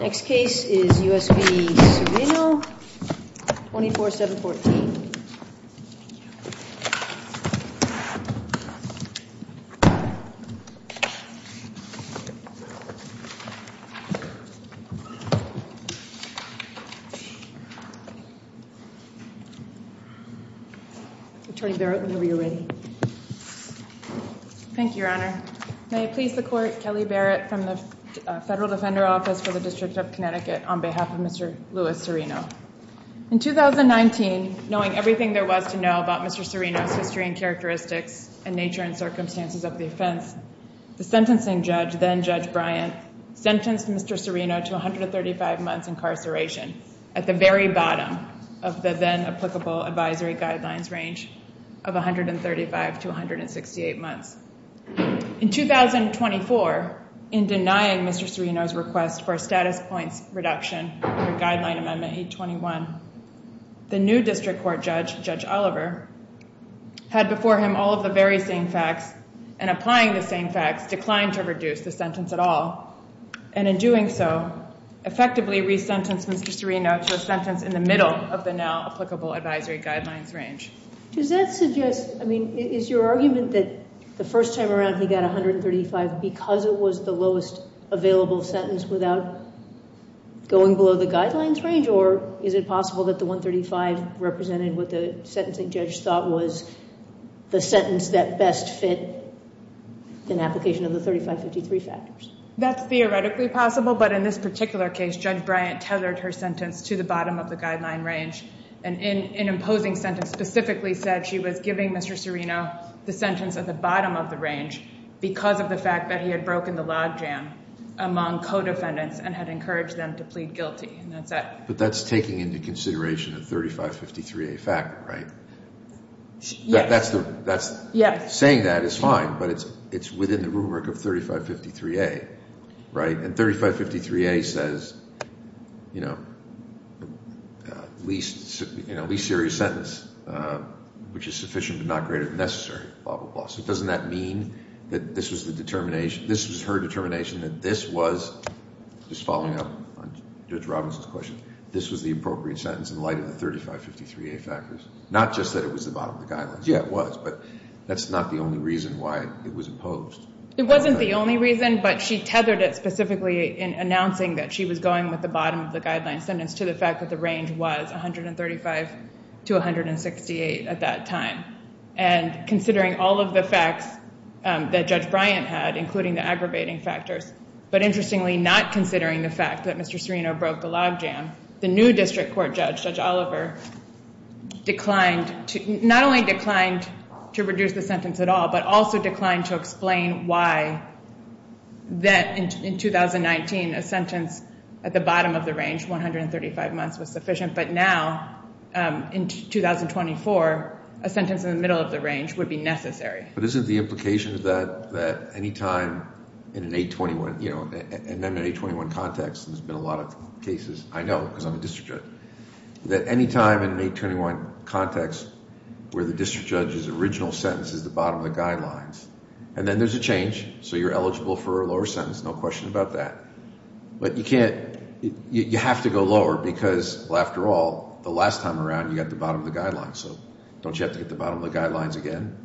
Next case is U.S. v. Cirino, 24-714. Attorney Barrett, whenever you're ready. Thank you, Your Honor. May it please the Court, Kelly Barrett from the Federal Defender Office for the District of Connecticut on behalf of Mr. Louis Cirino. In 2019, knowing everything there was to know about Mr. Cirino's history and characteristics and nature and circumstances of the offense, the sentencing judge, then Judge Bryant, sentenced Mr. Cirino to 135 months incarceration at the very bottom of the then applicable advisory guidelines range of 135 to 168 months. In 2024, in denying Mr. Cirino's request for a status points reduction under Guideline Amendment 821, the new district court judge, Judge Oliver, had before him all of the very same facts and applying the same facts declined to reduce the sentence at all. And in doing so, effectively resentenced Mr. Cirino to a sentence in the middle of the now applicable advisory guidelines range. Does that suggest, I mean, is your argument that the first time around he got 135 because it was the lowest available sentence without going below the guidelines range? Or is it possible that the 135 represented what the sentencing judge thought was the sentence that best fit an application of the 3553 factors? That's theoretically possible, but in this particular case, Judge Bryant tethered her sentence to the bottom of the guideline range. And in an imposing sentence, specifically said she was giving Mr. Cirino the sentence at the bottom of the range because of the fact that he had broken the logjam among co-defendants and had encouraged them to plead guilty. But that's taking into consideration the 3553A factor, right? Yes. Saying that is fine, but it's within the rubric of 3553A, right? And 3553A says, you know, least serious sentence, which is sufficient but not greater than necessary, blah, blah, blah. So doesn't that mean that this was her determination that this was, just following up on Judge Robinson's question, this was the appropriate sentence in light of the 3553A factors? Not just that it was the bottom of the guidelines. Yeah, it was, but that's not the only reason why it was imposed. It wasn't the only reason, but she tethered it specifically in announcing that she was going with the bottom of the guideline sentence to the fact that the range was 135 to 168 at that time. And considering all of the facts that Judge Bryant had, including the aggravating factors, but interestingly not considering the fact that Mr. Cirino broke the logjam, the new district court judge, Judge Oliver, declined to, not only declined to reduce the sentence at all, but also declined to explain why that in 2019 a sentence at the bottom of the range, 135 months, was sufficient. But now, in 2024, a sentence in the middle of the range would be necessary. But isn't the implication that any time in an 821, you know, in an 821 context, and there's been a lot of cases, I know because I'm a district judge, that any time in an 821 context where the district judge's original sentence is the bottom of the guidelines, and then there's a change, so you're eligible for a lower sentence, no question about that. But you can't, you have to go lower because, well, after all, the last time around you got the bottom of the guidelines. So don't you have to get the bottom of the guidelines again?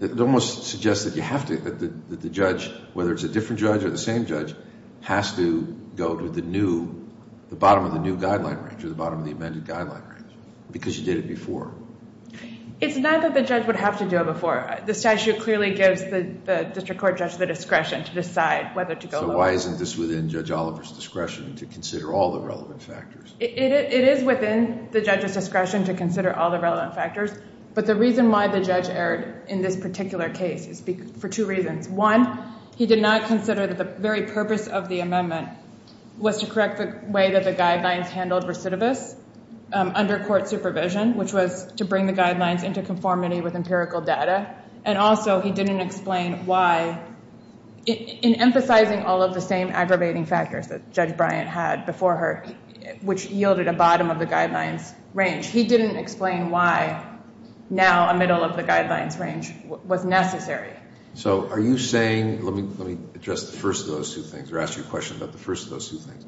It almost suggests that you have to, that the judge, whether it's a different judge or the same judge, has to go to the new, the bottom of the new guideline range or the bottom of the amended guideline range because you did it before. It's not that the judge would have to do it before. The statute clearly gives the district court judge the discretion to decide whether to go lower. So why isn't this within Judge Oliver's discretion to consider all the relevant factors? It is within the judge's discretion to consider all the relevant factors. But the reason why the judge erred in this particular case is for two reasons. One, he did not consider that the very purpose of the amendment was to correct the way that the guidelines handled recidivists under court supervision, which was to bring the guidelines into conformity with empirical data. And also he didn't explain why, in emphasizing all of the same aggravating factors that Judge Bryant had before her, which yielded a bottom of the guidelines range, he didn't explain why now a middle of the guidelines range was necessary. So are you saying, let me address the first of those two things, or ask you a question about the first of those two things.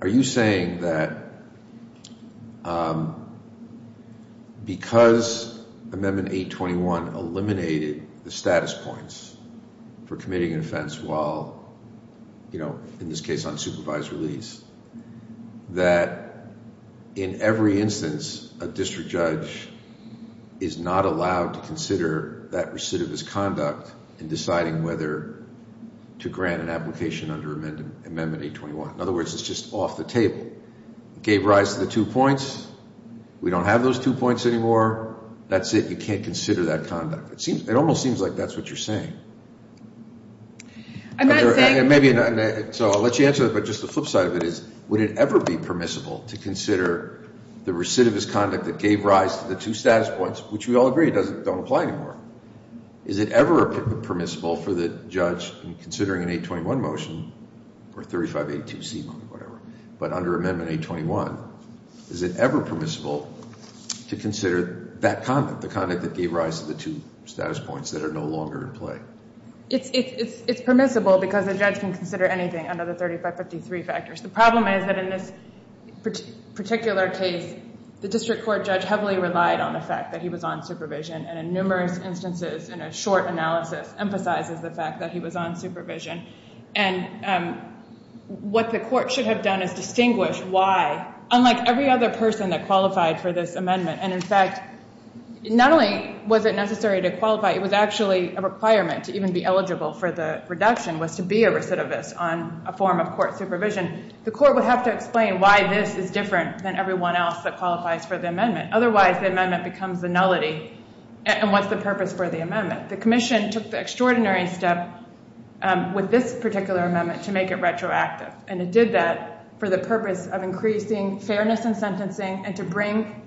Are you saying that because Amendment 821 eliminated the status points for committing an offense while, in this case, on supervised release, that in every instance a district judge is not allowed to consider that recidivist conduct in deciding whether to grant an application under Amendment 821? In other words, it's just off the table. It gave rise to the two points. We don't have those two points anymore. That's it. You can't consider that conduct. It almost seems like that's what you're saying. I'm not saying... So I'll let you answer that, but just the flip side of it is, would it ever be permissible to consider the recidivist conduct that gave rise to the two status points, which we all agree don't apply anymore. Is it ever permissible for the judge, considering an 821 motion, or 3582C motion, whatever, but under Amendment 821, is it ever permissible to consider that conduct, the conduct that gave rise to the two status points that are no longer in play? It's permissible because a judge can consider anything under the 3553 factors. The problem is that in this particular case, the district court judge heavily relied on the fact that he was on supervision, and in numerous instances, in a short analysis, emphasizes the fact that he was on supervision. And what the court should have done is distinguish why, unlike every other person that qualified for this amendment. And in fact, not only was it necessary to qualify, it was actually a requirement to even be eligible for the reduction, was to be a recidivist on a form of court supervision. The court would have to explain why this is different than everyone else that qualifies for the amendment. Otherwise, the amendment becomes a nullity, and what's the purpose for the amendment? The commission took the extraordinary step with this particular amendment to make it retroactive. And it did that for the purpose of increasing fairness in sentencing and to bring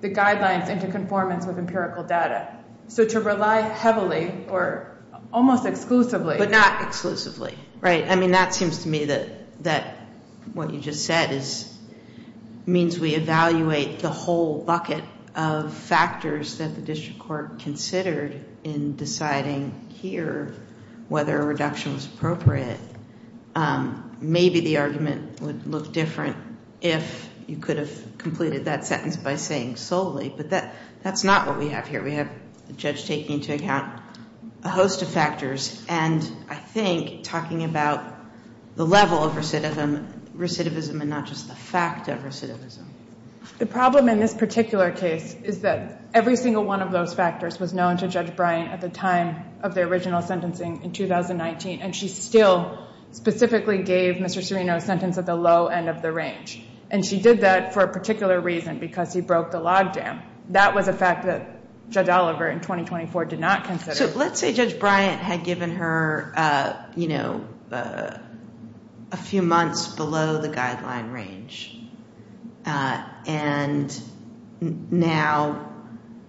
the guidelines into conformance with empirical data. So to rely heavily, or almost exclusively. But not exclusively, right? I mean, that seems to me that what you just said means we evaluate the whole bucket of factors that the district court considered in deciding here whether a reduction was appropriate. Maybe the argument would look different if you could have completed that sentence by saying solely. But that's not what we have here. We have the judge taking into account a host of factors. And I think talking about the level of recidivism and not just the fact of recidivism. The problem in this particular case is that every single one of those factors was known to Judge Bryant at the time of the original sentencing in 2019. And she still specifically gave Mr. Serino's sentence at the low end of the range. And she did that for a particular reason, because he broke the logjam. That was a fact that Judge Oliver in 2024 did not consider. So let's say Judge Bryant had given her a few months below the guideline range. And now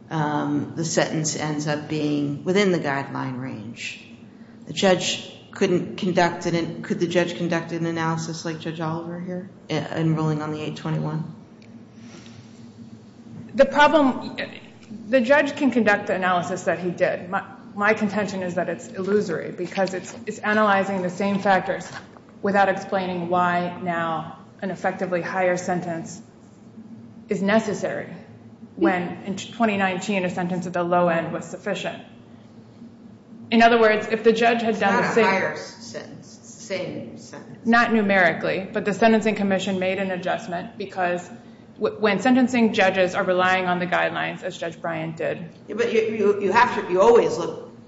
the sentence ends up being within the guideline range. Could the judge conduct an analysis like Judge Oliver here, enrolling on the 821? The problem, the judge can conduct the analysis that he did. My contention is that it's illusory, because it's analyzing the same factors without explaining why now an effectively higher sentence is necessary. When in 2019, a sentence at the low end was sufficient. In other words, if the judge had done the same. It's not a higher sentence. It's the same sentence. Not numerically, but the Sentencing Commission made an adjustment. Because when sentencing, judges are relying on the guidelines as Judge Bryant did. But you always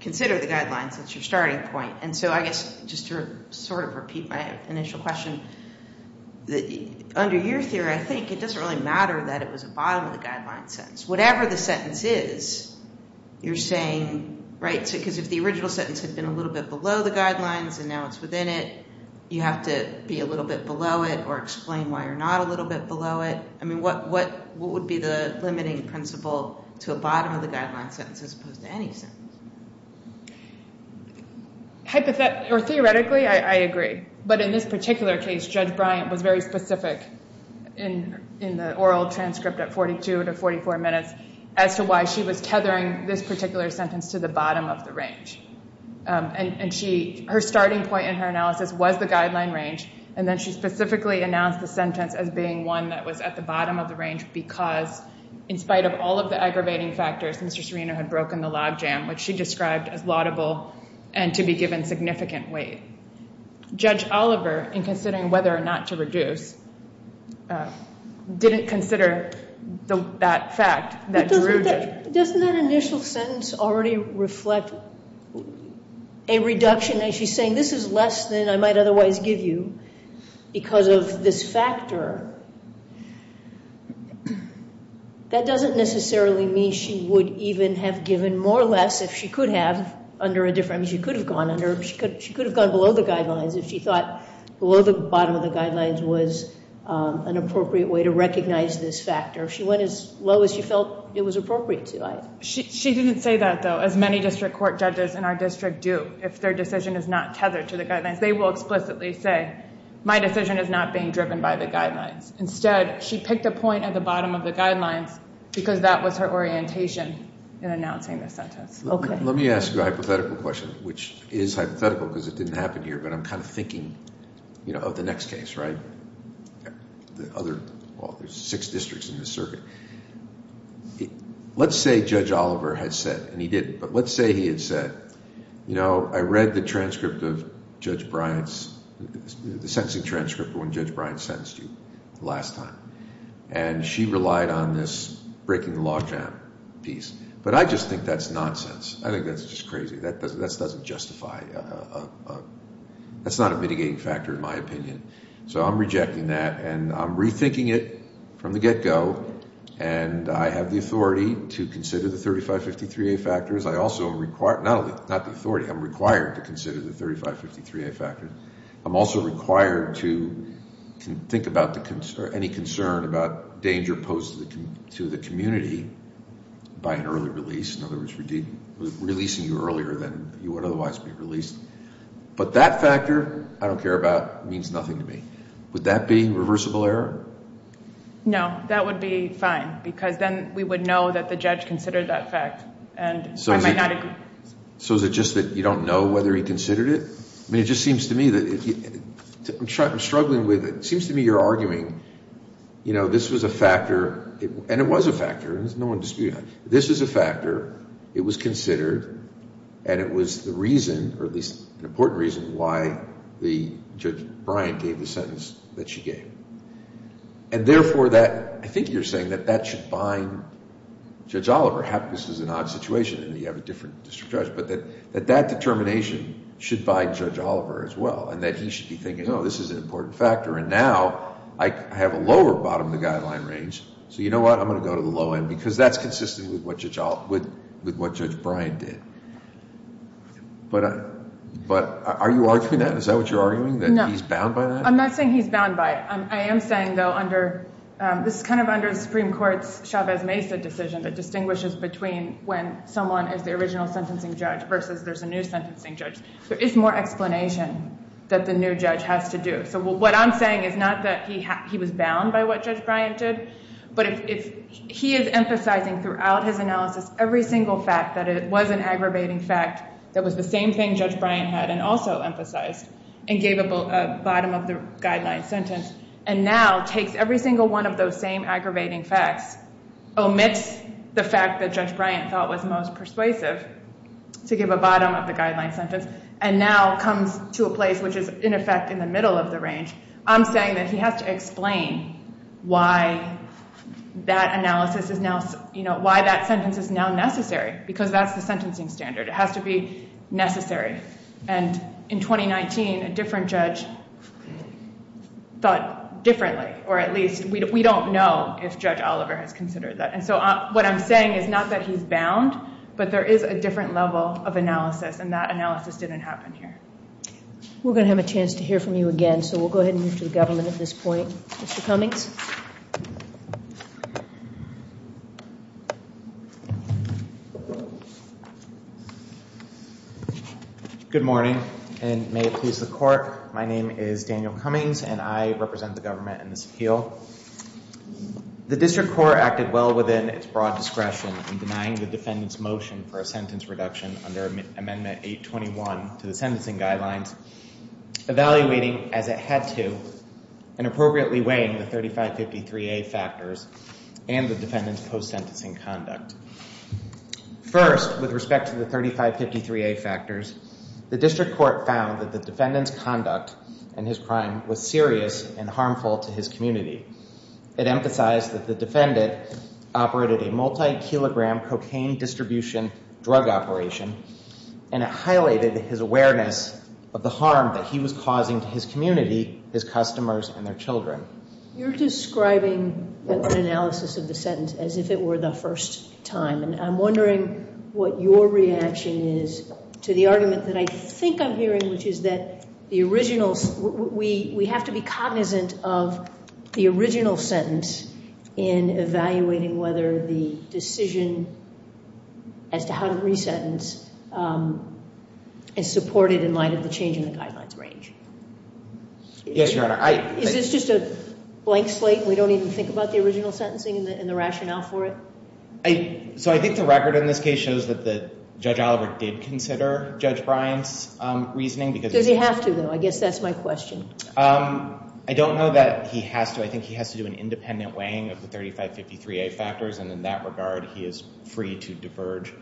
consider the guidelines as your starting point. And so I guess just to sort of repeat my initial question. Under your theory, I think it doesn't really matter that it was a bottom of the guideline sentence. Whatever the sentence is, you're saying, right? Because if the original sentence had been a little bit below the guidelines, and now it's within it. You have to be a little bit below it or explain why you're not a little bit below it. I mean, what would be the limiting principle to a bottom of the guideline sentence as opposed to any sentence? Hypothetically, I agree. But in this particular case, Judge Bryant was very specific in the oral transcript at 42 to 44 minutes. As to why she was tethering this particular sentence to the bottom of the range. And her starting point in her analysis was the guideline range. And then she specifically announced the sentence as being one that was at the bottom of the range. Because in spite of all of the aggravating factors, Mr. Serino had broken the logjam. Which she described as laudable and to be given significant weight. Judge Oliver, in considering whether or not to reduce, didn't consider that fact. Doesn't that initial sentence already reflect a reduction? She's saying this is less than I might otherwise give you because of this factor. That doesn't necessarily mean she would even have given more or less if she could have. She could have gone below the guidelines if she thought below the bottom of the guidelines was an appropriate way to recognize this factor. She went as low as she felt it was appropriate to. She didn't say that, though, as many district court judges in our district do. If their decision is not tethered to the guidelines, they will explicitly say, my decision is not being driven by the guidelines. Instead, she picked a point at the bottom of the guidelines because that was her orientation in announcing the sentence. Let me ask you a hypothetical question, which is hypothetical because it didn't happen here, but I'm kind of thinking of the next case, right? The other, well, there's six districts in this circuit. Let's say Judge Oliver had said, and he did, but let's say he had said, you know, I read the transcript of Judge Bryant's, the sentencing transcript of when Judge Bryant sentenced you the last time. And she relied on this breaking the law jam piece. But I just think that's nonsense. I think that's just crazy. That doesn't justify a – that's not a mitigating factor in my opinion. So I'm rejecting that, and I'm rethinking it from the get-go, and I have the authority to consider the 3553A factors. I also am required – not the authority. I'm required to consider the 3553A factors. I'm also required to think about any concern about danger posed to the community by an early release. In other words, releasing you earlier than you would otherwise be released. But that factor, I don't care about, means nothing to me. Would that be reversible error? No, that would be fine because then we would know that the judge considered that fact, and I might not agree. So is it just that you don't know whether he considered it? I mean, it just seems to me that – I'm struggling with it. It seems to me you're arguing, you know, this was a factor – and it was a factor. No one disputed that. This is a factor. It was considered, and it was the reason, or at least an important reason, why Judge Bryant gave the sentence that she gave. And therefore, that – I think you're saying that that should bind Judge Oliver. Perhaps this is an odd situation in that you have a different district judge, but that that determination should bind Judge Oliver as well, and that he should be thinking, oh, this is an important factor, and now I have a lower bottom of the guideline range. So you know what? I'm going to go to the low end because that's consistent with what Judge Bryant did. But are you arguing that? Is that what you're arguing, that he's bound by that? No. I'm not saying he's bound by it. I am saying, though, under – this is kind of under the Supreme Court's Chavez-Mesa decision that distinguishes between when someone is the original sentencing judge versus there's a new sentencing judge. There is more explanation that the new judge has to do. So what I'm saying is not that he was bound by what Judge Bryant did, but if he is emphasizing throughout his analysis every single fact that it was an aggravating fact that was the same thing Judge Bryant had and also emphasized and gave a bottom of the guideline sentence and now takes every single one of those same aggravating facts, omits the fact that Judge Bryant thought was most persuasive to give a bottom of the guideline sentence, and now comes to a place which is, in effect, in the middle of the range, I'm saying that he has to explain why that analysis is now – why that sentence is now necessary because that's the sentencing standard. It has to be necessary. And in 2019, a different judge thought differently, or at least we don't know if Judge Oliver has considered that. And so what I'm saying is not that he's bound, but there is a different level of analysis, and that analysis didn't happen here. We're going to have a chance to hear from you again, so we'll go ahead and move to the government at this point. Mr. Cummings. Good morning, and may it please the Court. My name is Daniel Cummings, and I represent the government in this appeal. The district court acted well within its broad discretion in denying the defendant's motion for a sentence reduction under Amendment 821 to the sentencing guidelines, evaluating as it had to and appropriately weighing the 3553A factors and the defendant's post-sentencing conduct. First, with respect to the 3553A factors, the district court found that the defendant's conduct and his crime was serious and harmful to his community. It emphasized that the defendant operated a multi-kilogram cocaine distribution drug operation, and it highlighted his awareness of the harm that he was causing to his community, his customers, and their children. You're describing an analysis of the sentence as if it were the first time, and I'm wondering what your reaction is to the argument that I think I'm hearing, which is that we have to be cognizant of the original sentence in evaluating whether the decision as to how to re-sentence is supported in light of the change in the guidelines range. Yes, Your Honor. Is this just a blank slate and we don't even think about the original sentencing and the rationale for it? So I think the record in this case shows that Judge Oliver did consider Judge Bryant's reasoning. Does he have to, though? I guess that's my question. I don't know that he has to. I think he has to do an independent weighing of the 3553A factors, and in that regard he is free to diverge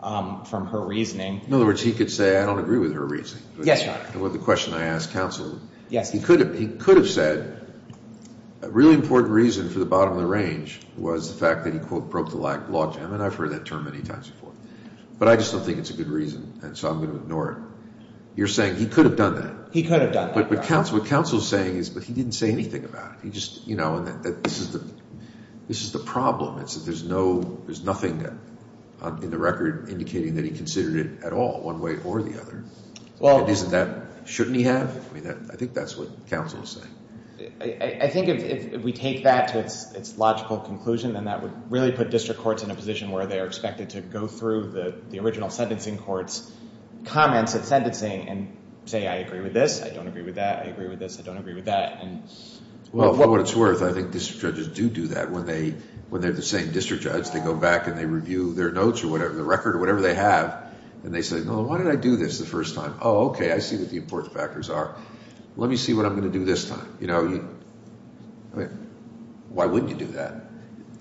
from her reasoning. In other words, he could say, I don't agree with her reasoning. Yes, Your Honor. The question I asked counsel, he could have said a really important reason for the bottom of the range was the fact that he, quote, broke the law, Jim, and I've heard that term many times before. But I just don't think it's a good reason, and so I'm going to ignore it. You're saying he could have done that. He could have done that. But what counsel is saying is, but he didn't say anything about it. He just, you know, this is the problem. There's nothing in the record indicating that he considered it at all, one way or the other. Isn't that, shouldn't he have? I think that's what counsel is saying. I think if we take that to its logical conclusion, then that would really put district courts in a position where they are expected to go through the original sentencing court's comments of sentencing and say, I agree with this, I don't agree with that, I agree with this, I don't agree with that. Well, for what it's worth, I think district judges do do that. When they're the same district judge, they go back and they review their notes or whatever, the record or whatever they have, and they say, well, why did I do this the first time? Oh, okay, I see what the important factors are. Let me see what I'm going to do this time. You know, why wouldn't you do that?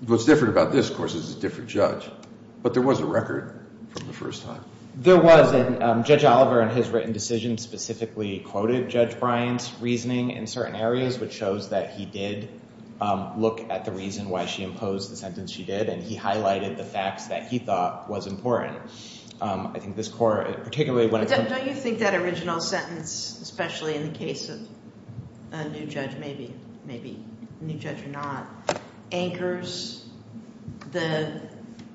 What's different about this, of course, is it's a different judge. But there was a record from the first time. There was, and Judge Oliver in his written decision specifically quoted Judge Bryant's reasoning in certain areas, which shows that he did look at the reason why she imposed the sentence she did, and he highlighted the facts that he thought was important. I think this court, particularly when it comes to- Don't you think that original sentence, especially in the case of a new judge maybe, maybe a new judge or not, anchors the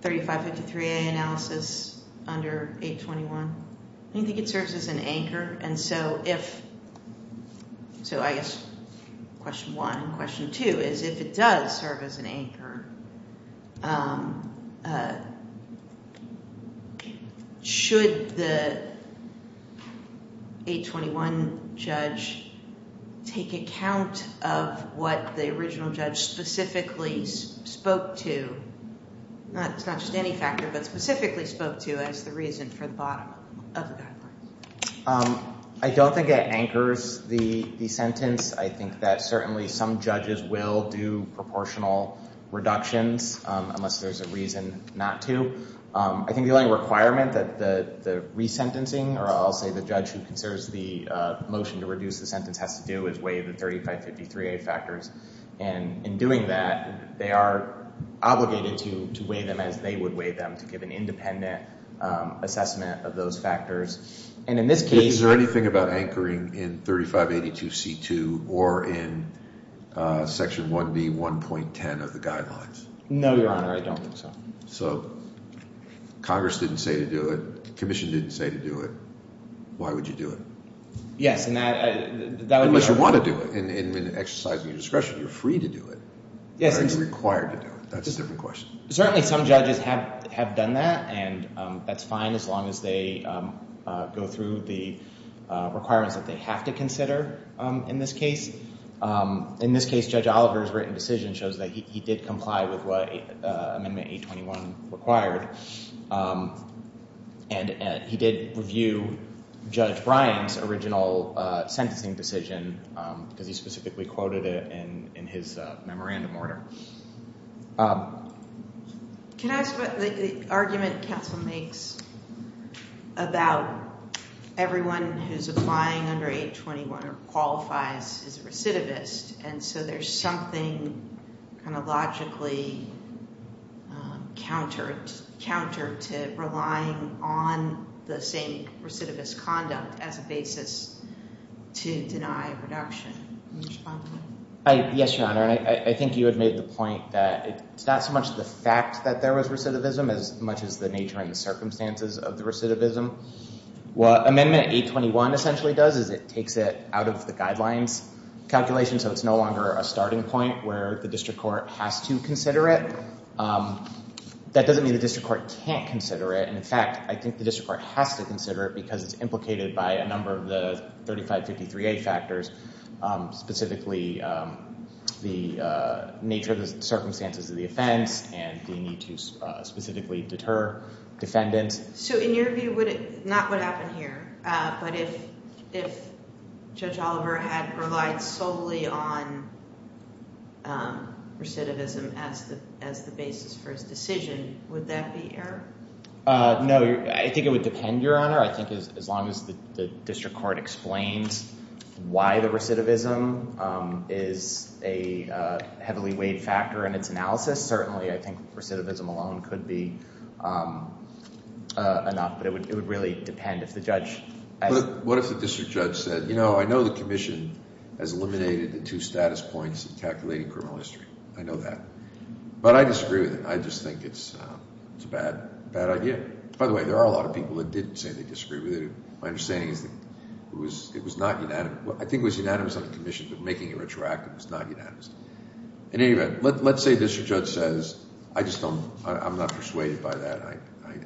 3553A analysis under 821? Don't you think it serves as an anchor? And so if, so I guess question one. Question two is if it does serve as an anchor, should the 821 judge take account of what the original judge specifically spoke to, not just any factor, but specifically spoke to as the reason for the bottom of the guidelines? I don't think it anchors the sentence. I think that certainly some judges will do proportional reductions unless there's a reason not to. I think the only requirement that the resentencing, or I'll say the judge who considers the motion to reduce the sentence has to do is weigh the 3553A factors. And in doing that, they are obligated to weigh them as they would weigh them, to give an independent assessment of those factors. And in this case- Is there anything about anchoring in 3582C2 or in Section 1B1.10 of the guidelines? No, Your Honor. I don't think so. So Congress didn't say to do it. Commission didn't say to do it. Why would you do it? Yes, and that would be our- That's a different question. You're free to do it. Yes. Or you're required to do it. That's a different question. Certainly some judges have done that, and that's fine as long as they go through the requirements that they have to consider in this case. In this case, Judge Oliver's written decision shows that he did comply with what Amendment 821 required. And he did review Judge Bryan's original sentencing decision because he specifically quoted it in his memorandum order. Can I ask what the argument counsel makes about everyone who's applying under 821 or qualifies as a recidivist, and so there's something kind of logically counter to relying on the same recidivist conduct as a basis to deny reduction? Yes, Your Honor, and I think you had made the point that it's not so much the fact that there was recidivism as much as the nature and the circumstances of the recidivism. What Amendment 821 essentially does is it takes it out of the guidelines calculation, so it's no longer a starting point where the district court has to consider it. That doesn't mean the district court can't consider it. And, in fact, I think the district court has to consider it because it's implicated by a number of the 3553A factors, specifically the nature of the circumstances of the offense and the need to specifically deter defendants. So in your view, not what happened here, but if Judge Oliver had relied solely on recidivism as the basis for his decision, would that be error? No, I think it would depend, Your Honor. I think as long as the district court explains why the recidivism is a heavily weighed factor in its analysis, this certainly, I think, recidivism alone could be enough, but it would really depend if the judge… But what if the district judge said, you know, I know the commission has eliminated the two status points in calculating criminal history. I know that. But I disagree with it. I just think it's a bad idea. By the way, there are a lot of people that didn't say they disagree with it. My understanding is that it was not unanimous. I think it was unanimous on the commission, but making it retroactive was not unanimous. In any event, let's say the district judge says, I'm not persuaded by that.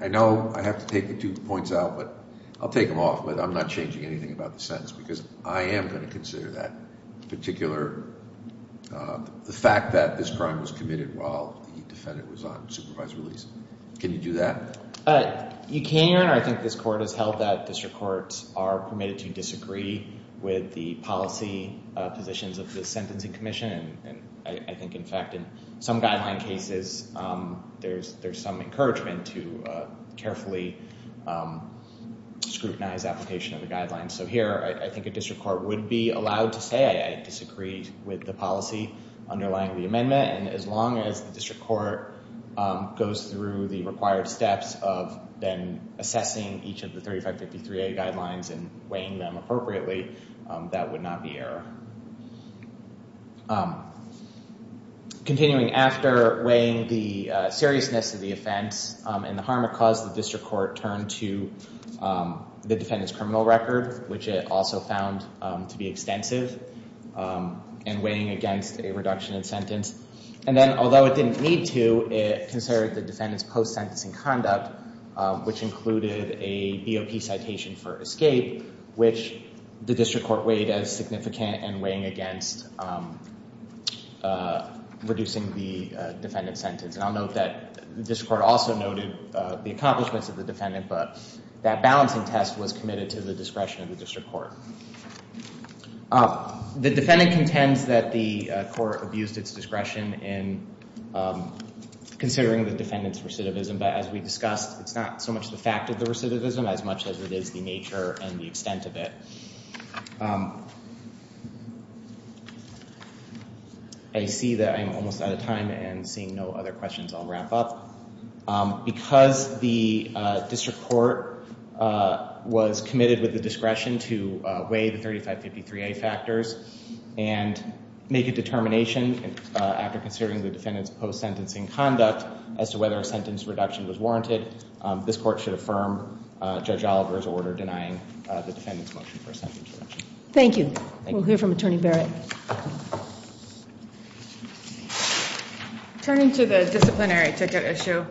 I know I have to take the two points out, but I'll take them off. I'm not changing anything about the sentence because I am going to consider that particular fact that this crime was committed while the defendant was on supervised release. Can you do that? You can, Your Honor. So here I think this court has held that district courts are permitted to disagree with the policy positions of the sentencing commission. And I think, in fact, in some guideline cases, there's some encouragement to carefully scrutinize application of the guidelines. So here I think a district court would be allowed to say I disagree with the policy underlying the amendment. And as long as the district court goes through the required steps of then assessing each of the 3553A guidelines and weighing them appropriately, that would not be error. Continuing after weighing the seriousness of the offense and the harm it caused, the district court turned to the defendant's criminal record, which it also found to be extensive, and weighing against a reduction in sentence. And then although it didn't need to, it considered the defendant's post-sentencing conduct, which included a BOP citation for escape, which the district court weighed as significant and weighing against reducing the defendant's sentence. And I'll note that the district court also noted the accomplishments of the defendant, but that balancing test was committed to the discretion of the district court. The defendant contends that the court abused its discretion in considering the defendant's recidivism, but as we discussed, it's not so much the fact of the recidivism as much as it is the nature and the extent of it. I see that I'm almost out of time, and seeing no other questions, I'll wrap up. Because the district court was committed with the discretion to weigh the 3553A factors and make a determination after considering the defendant's post-sentencing conduct as to whether a sentence reduction was warranted, this court should affirm Judge Oliver's order denying the defendant's motion for a sentence reduction. Thank you. We'll hear from Attorney Barrett. Turning to the disciplinary ticket issue,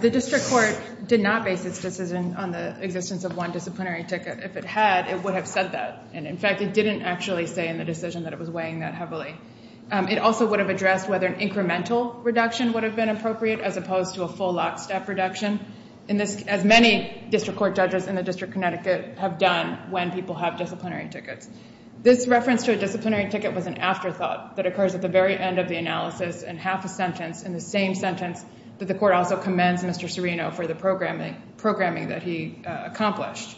the district court did not base its decision on the existence of one disciplinary ticket. If it had, it would have said that. And in fact, it didn't actually say in the decision that it was weighing that heavily. It also would have addressed whether an incremental reduction would have been appropriate as opposed to a full lockstep reduction, as many district court judges in the District of Connecticut have done when people have disciplinary tickets. This reference to a disciplinary ticket was an afterthought that occurs at the very end of the analysis and half a sentence in the same sentence that the court also commends Mr. Serino for the programming that he accomplished.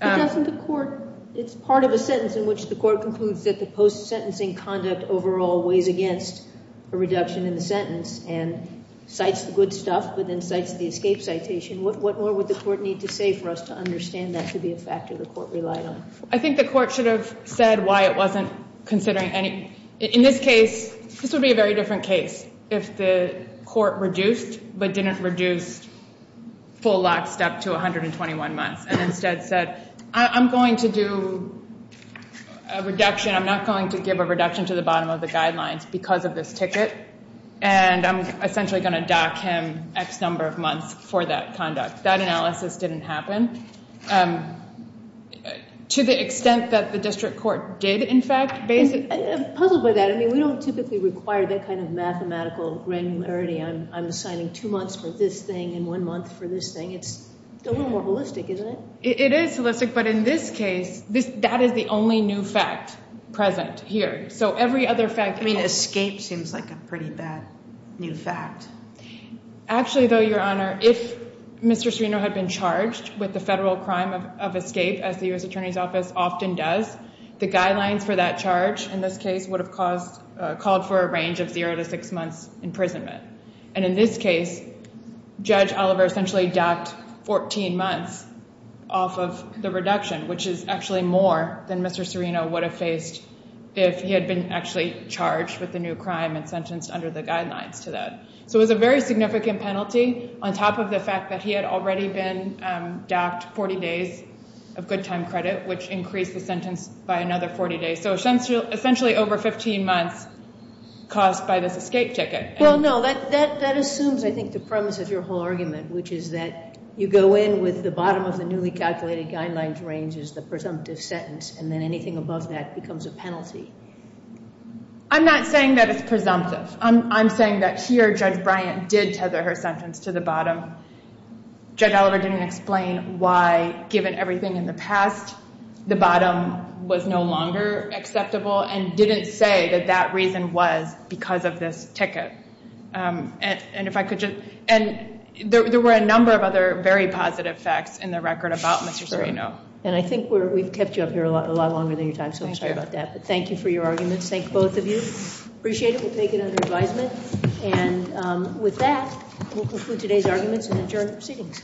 It's part of a sentence in which the court concludes that the post-sentencing conduct overall weighs against a reduction in the sentence and cites the good stuff but then cites the escape citation. What more would the court need to say for us to understand that to be a factor the court relied on? I think the court should have said why it wasn't considering any. In this case, this would be a very different case if the court reduced but didn't reduce full lockstep to 121 months. Instead said, I'm going to do a reduction. I'm not going to give a reduction to the bottom of the guidelines because of this ticket and I'm essentially going to dock him X number of months for that conduct. That analysis didn't happen to the extent that the district court did in fact base it. I'm puzzled by that. I mean, we don't typically require that kind of mathematical granularity. I'm assigning two months for this thing and one month for this thing. It's a little more holistic, isn't it? It is holistic, but in this case, that is the only new fact present here. So every other fact… I mean, escape seems like a pretty bad new fact. Actually, though, Your Honor, if Mr. Serino had been charged with the federal crime of escape as the U.S. Attorney's Office often does, the guidelines for that charge in this case would have called for a range of zero to six months imprisonment. And in this case, Judge Oliver essentially docked 14 months off of the reduction, which is actually more than Mr. Serino would have faced if he had been actually charged with the new crime and sentenced under the guidelines to that. So it was a very significant penalty on top of the fact that he had already been docked 40 days of good time credit, which increased the sentence by another 40 days. So essentially over 15 months caused by this escape ticket. Well, no, that assumes, I think, the premise of your whole argument, which is that you go in with the bottom of the newly calculated guidelines range as the presumptive sentence and then anything above that becomes a penalty. I'm not saying that it's presumptive. I'm saying that here Judge Bryant did tether her sentence to the bottom. Judge Oliver didn't explain why, given everything in the past, the bottom was no longer acceptable and didn't say that that reason was because of this ticket. And there were a number of other very positive facts in the record about Mr. Serino. And I think we've kept you up here a lot longer than your time, so I'm sorry about that. But thank you for your arguments. Thank both of you. Appreciate it. We'll take it under advisement. And with that, we'll conclude today's arguments and adjourn the proceedings.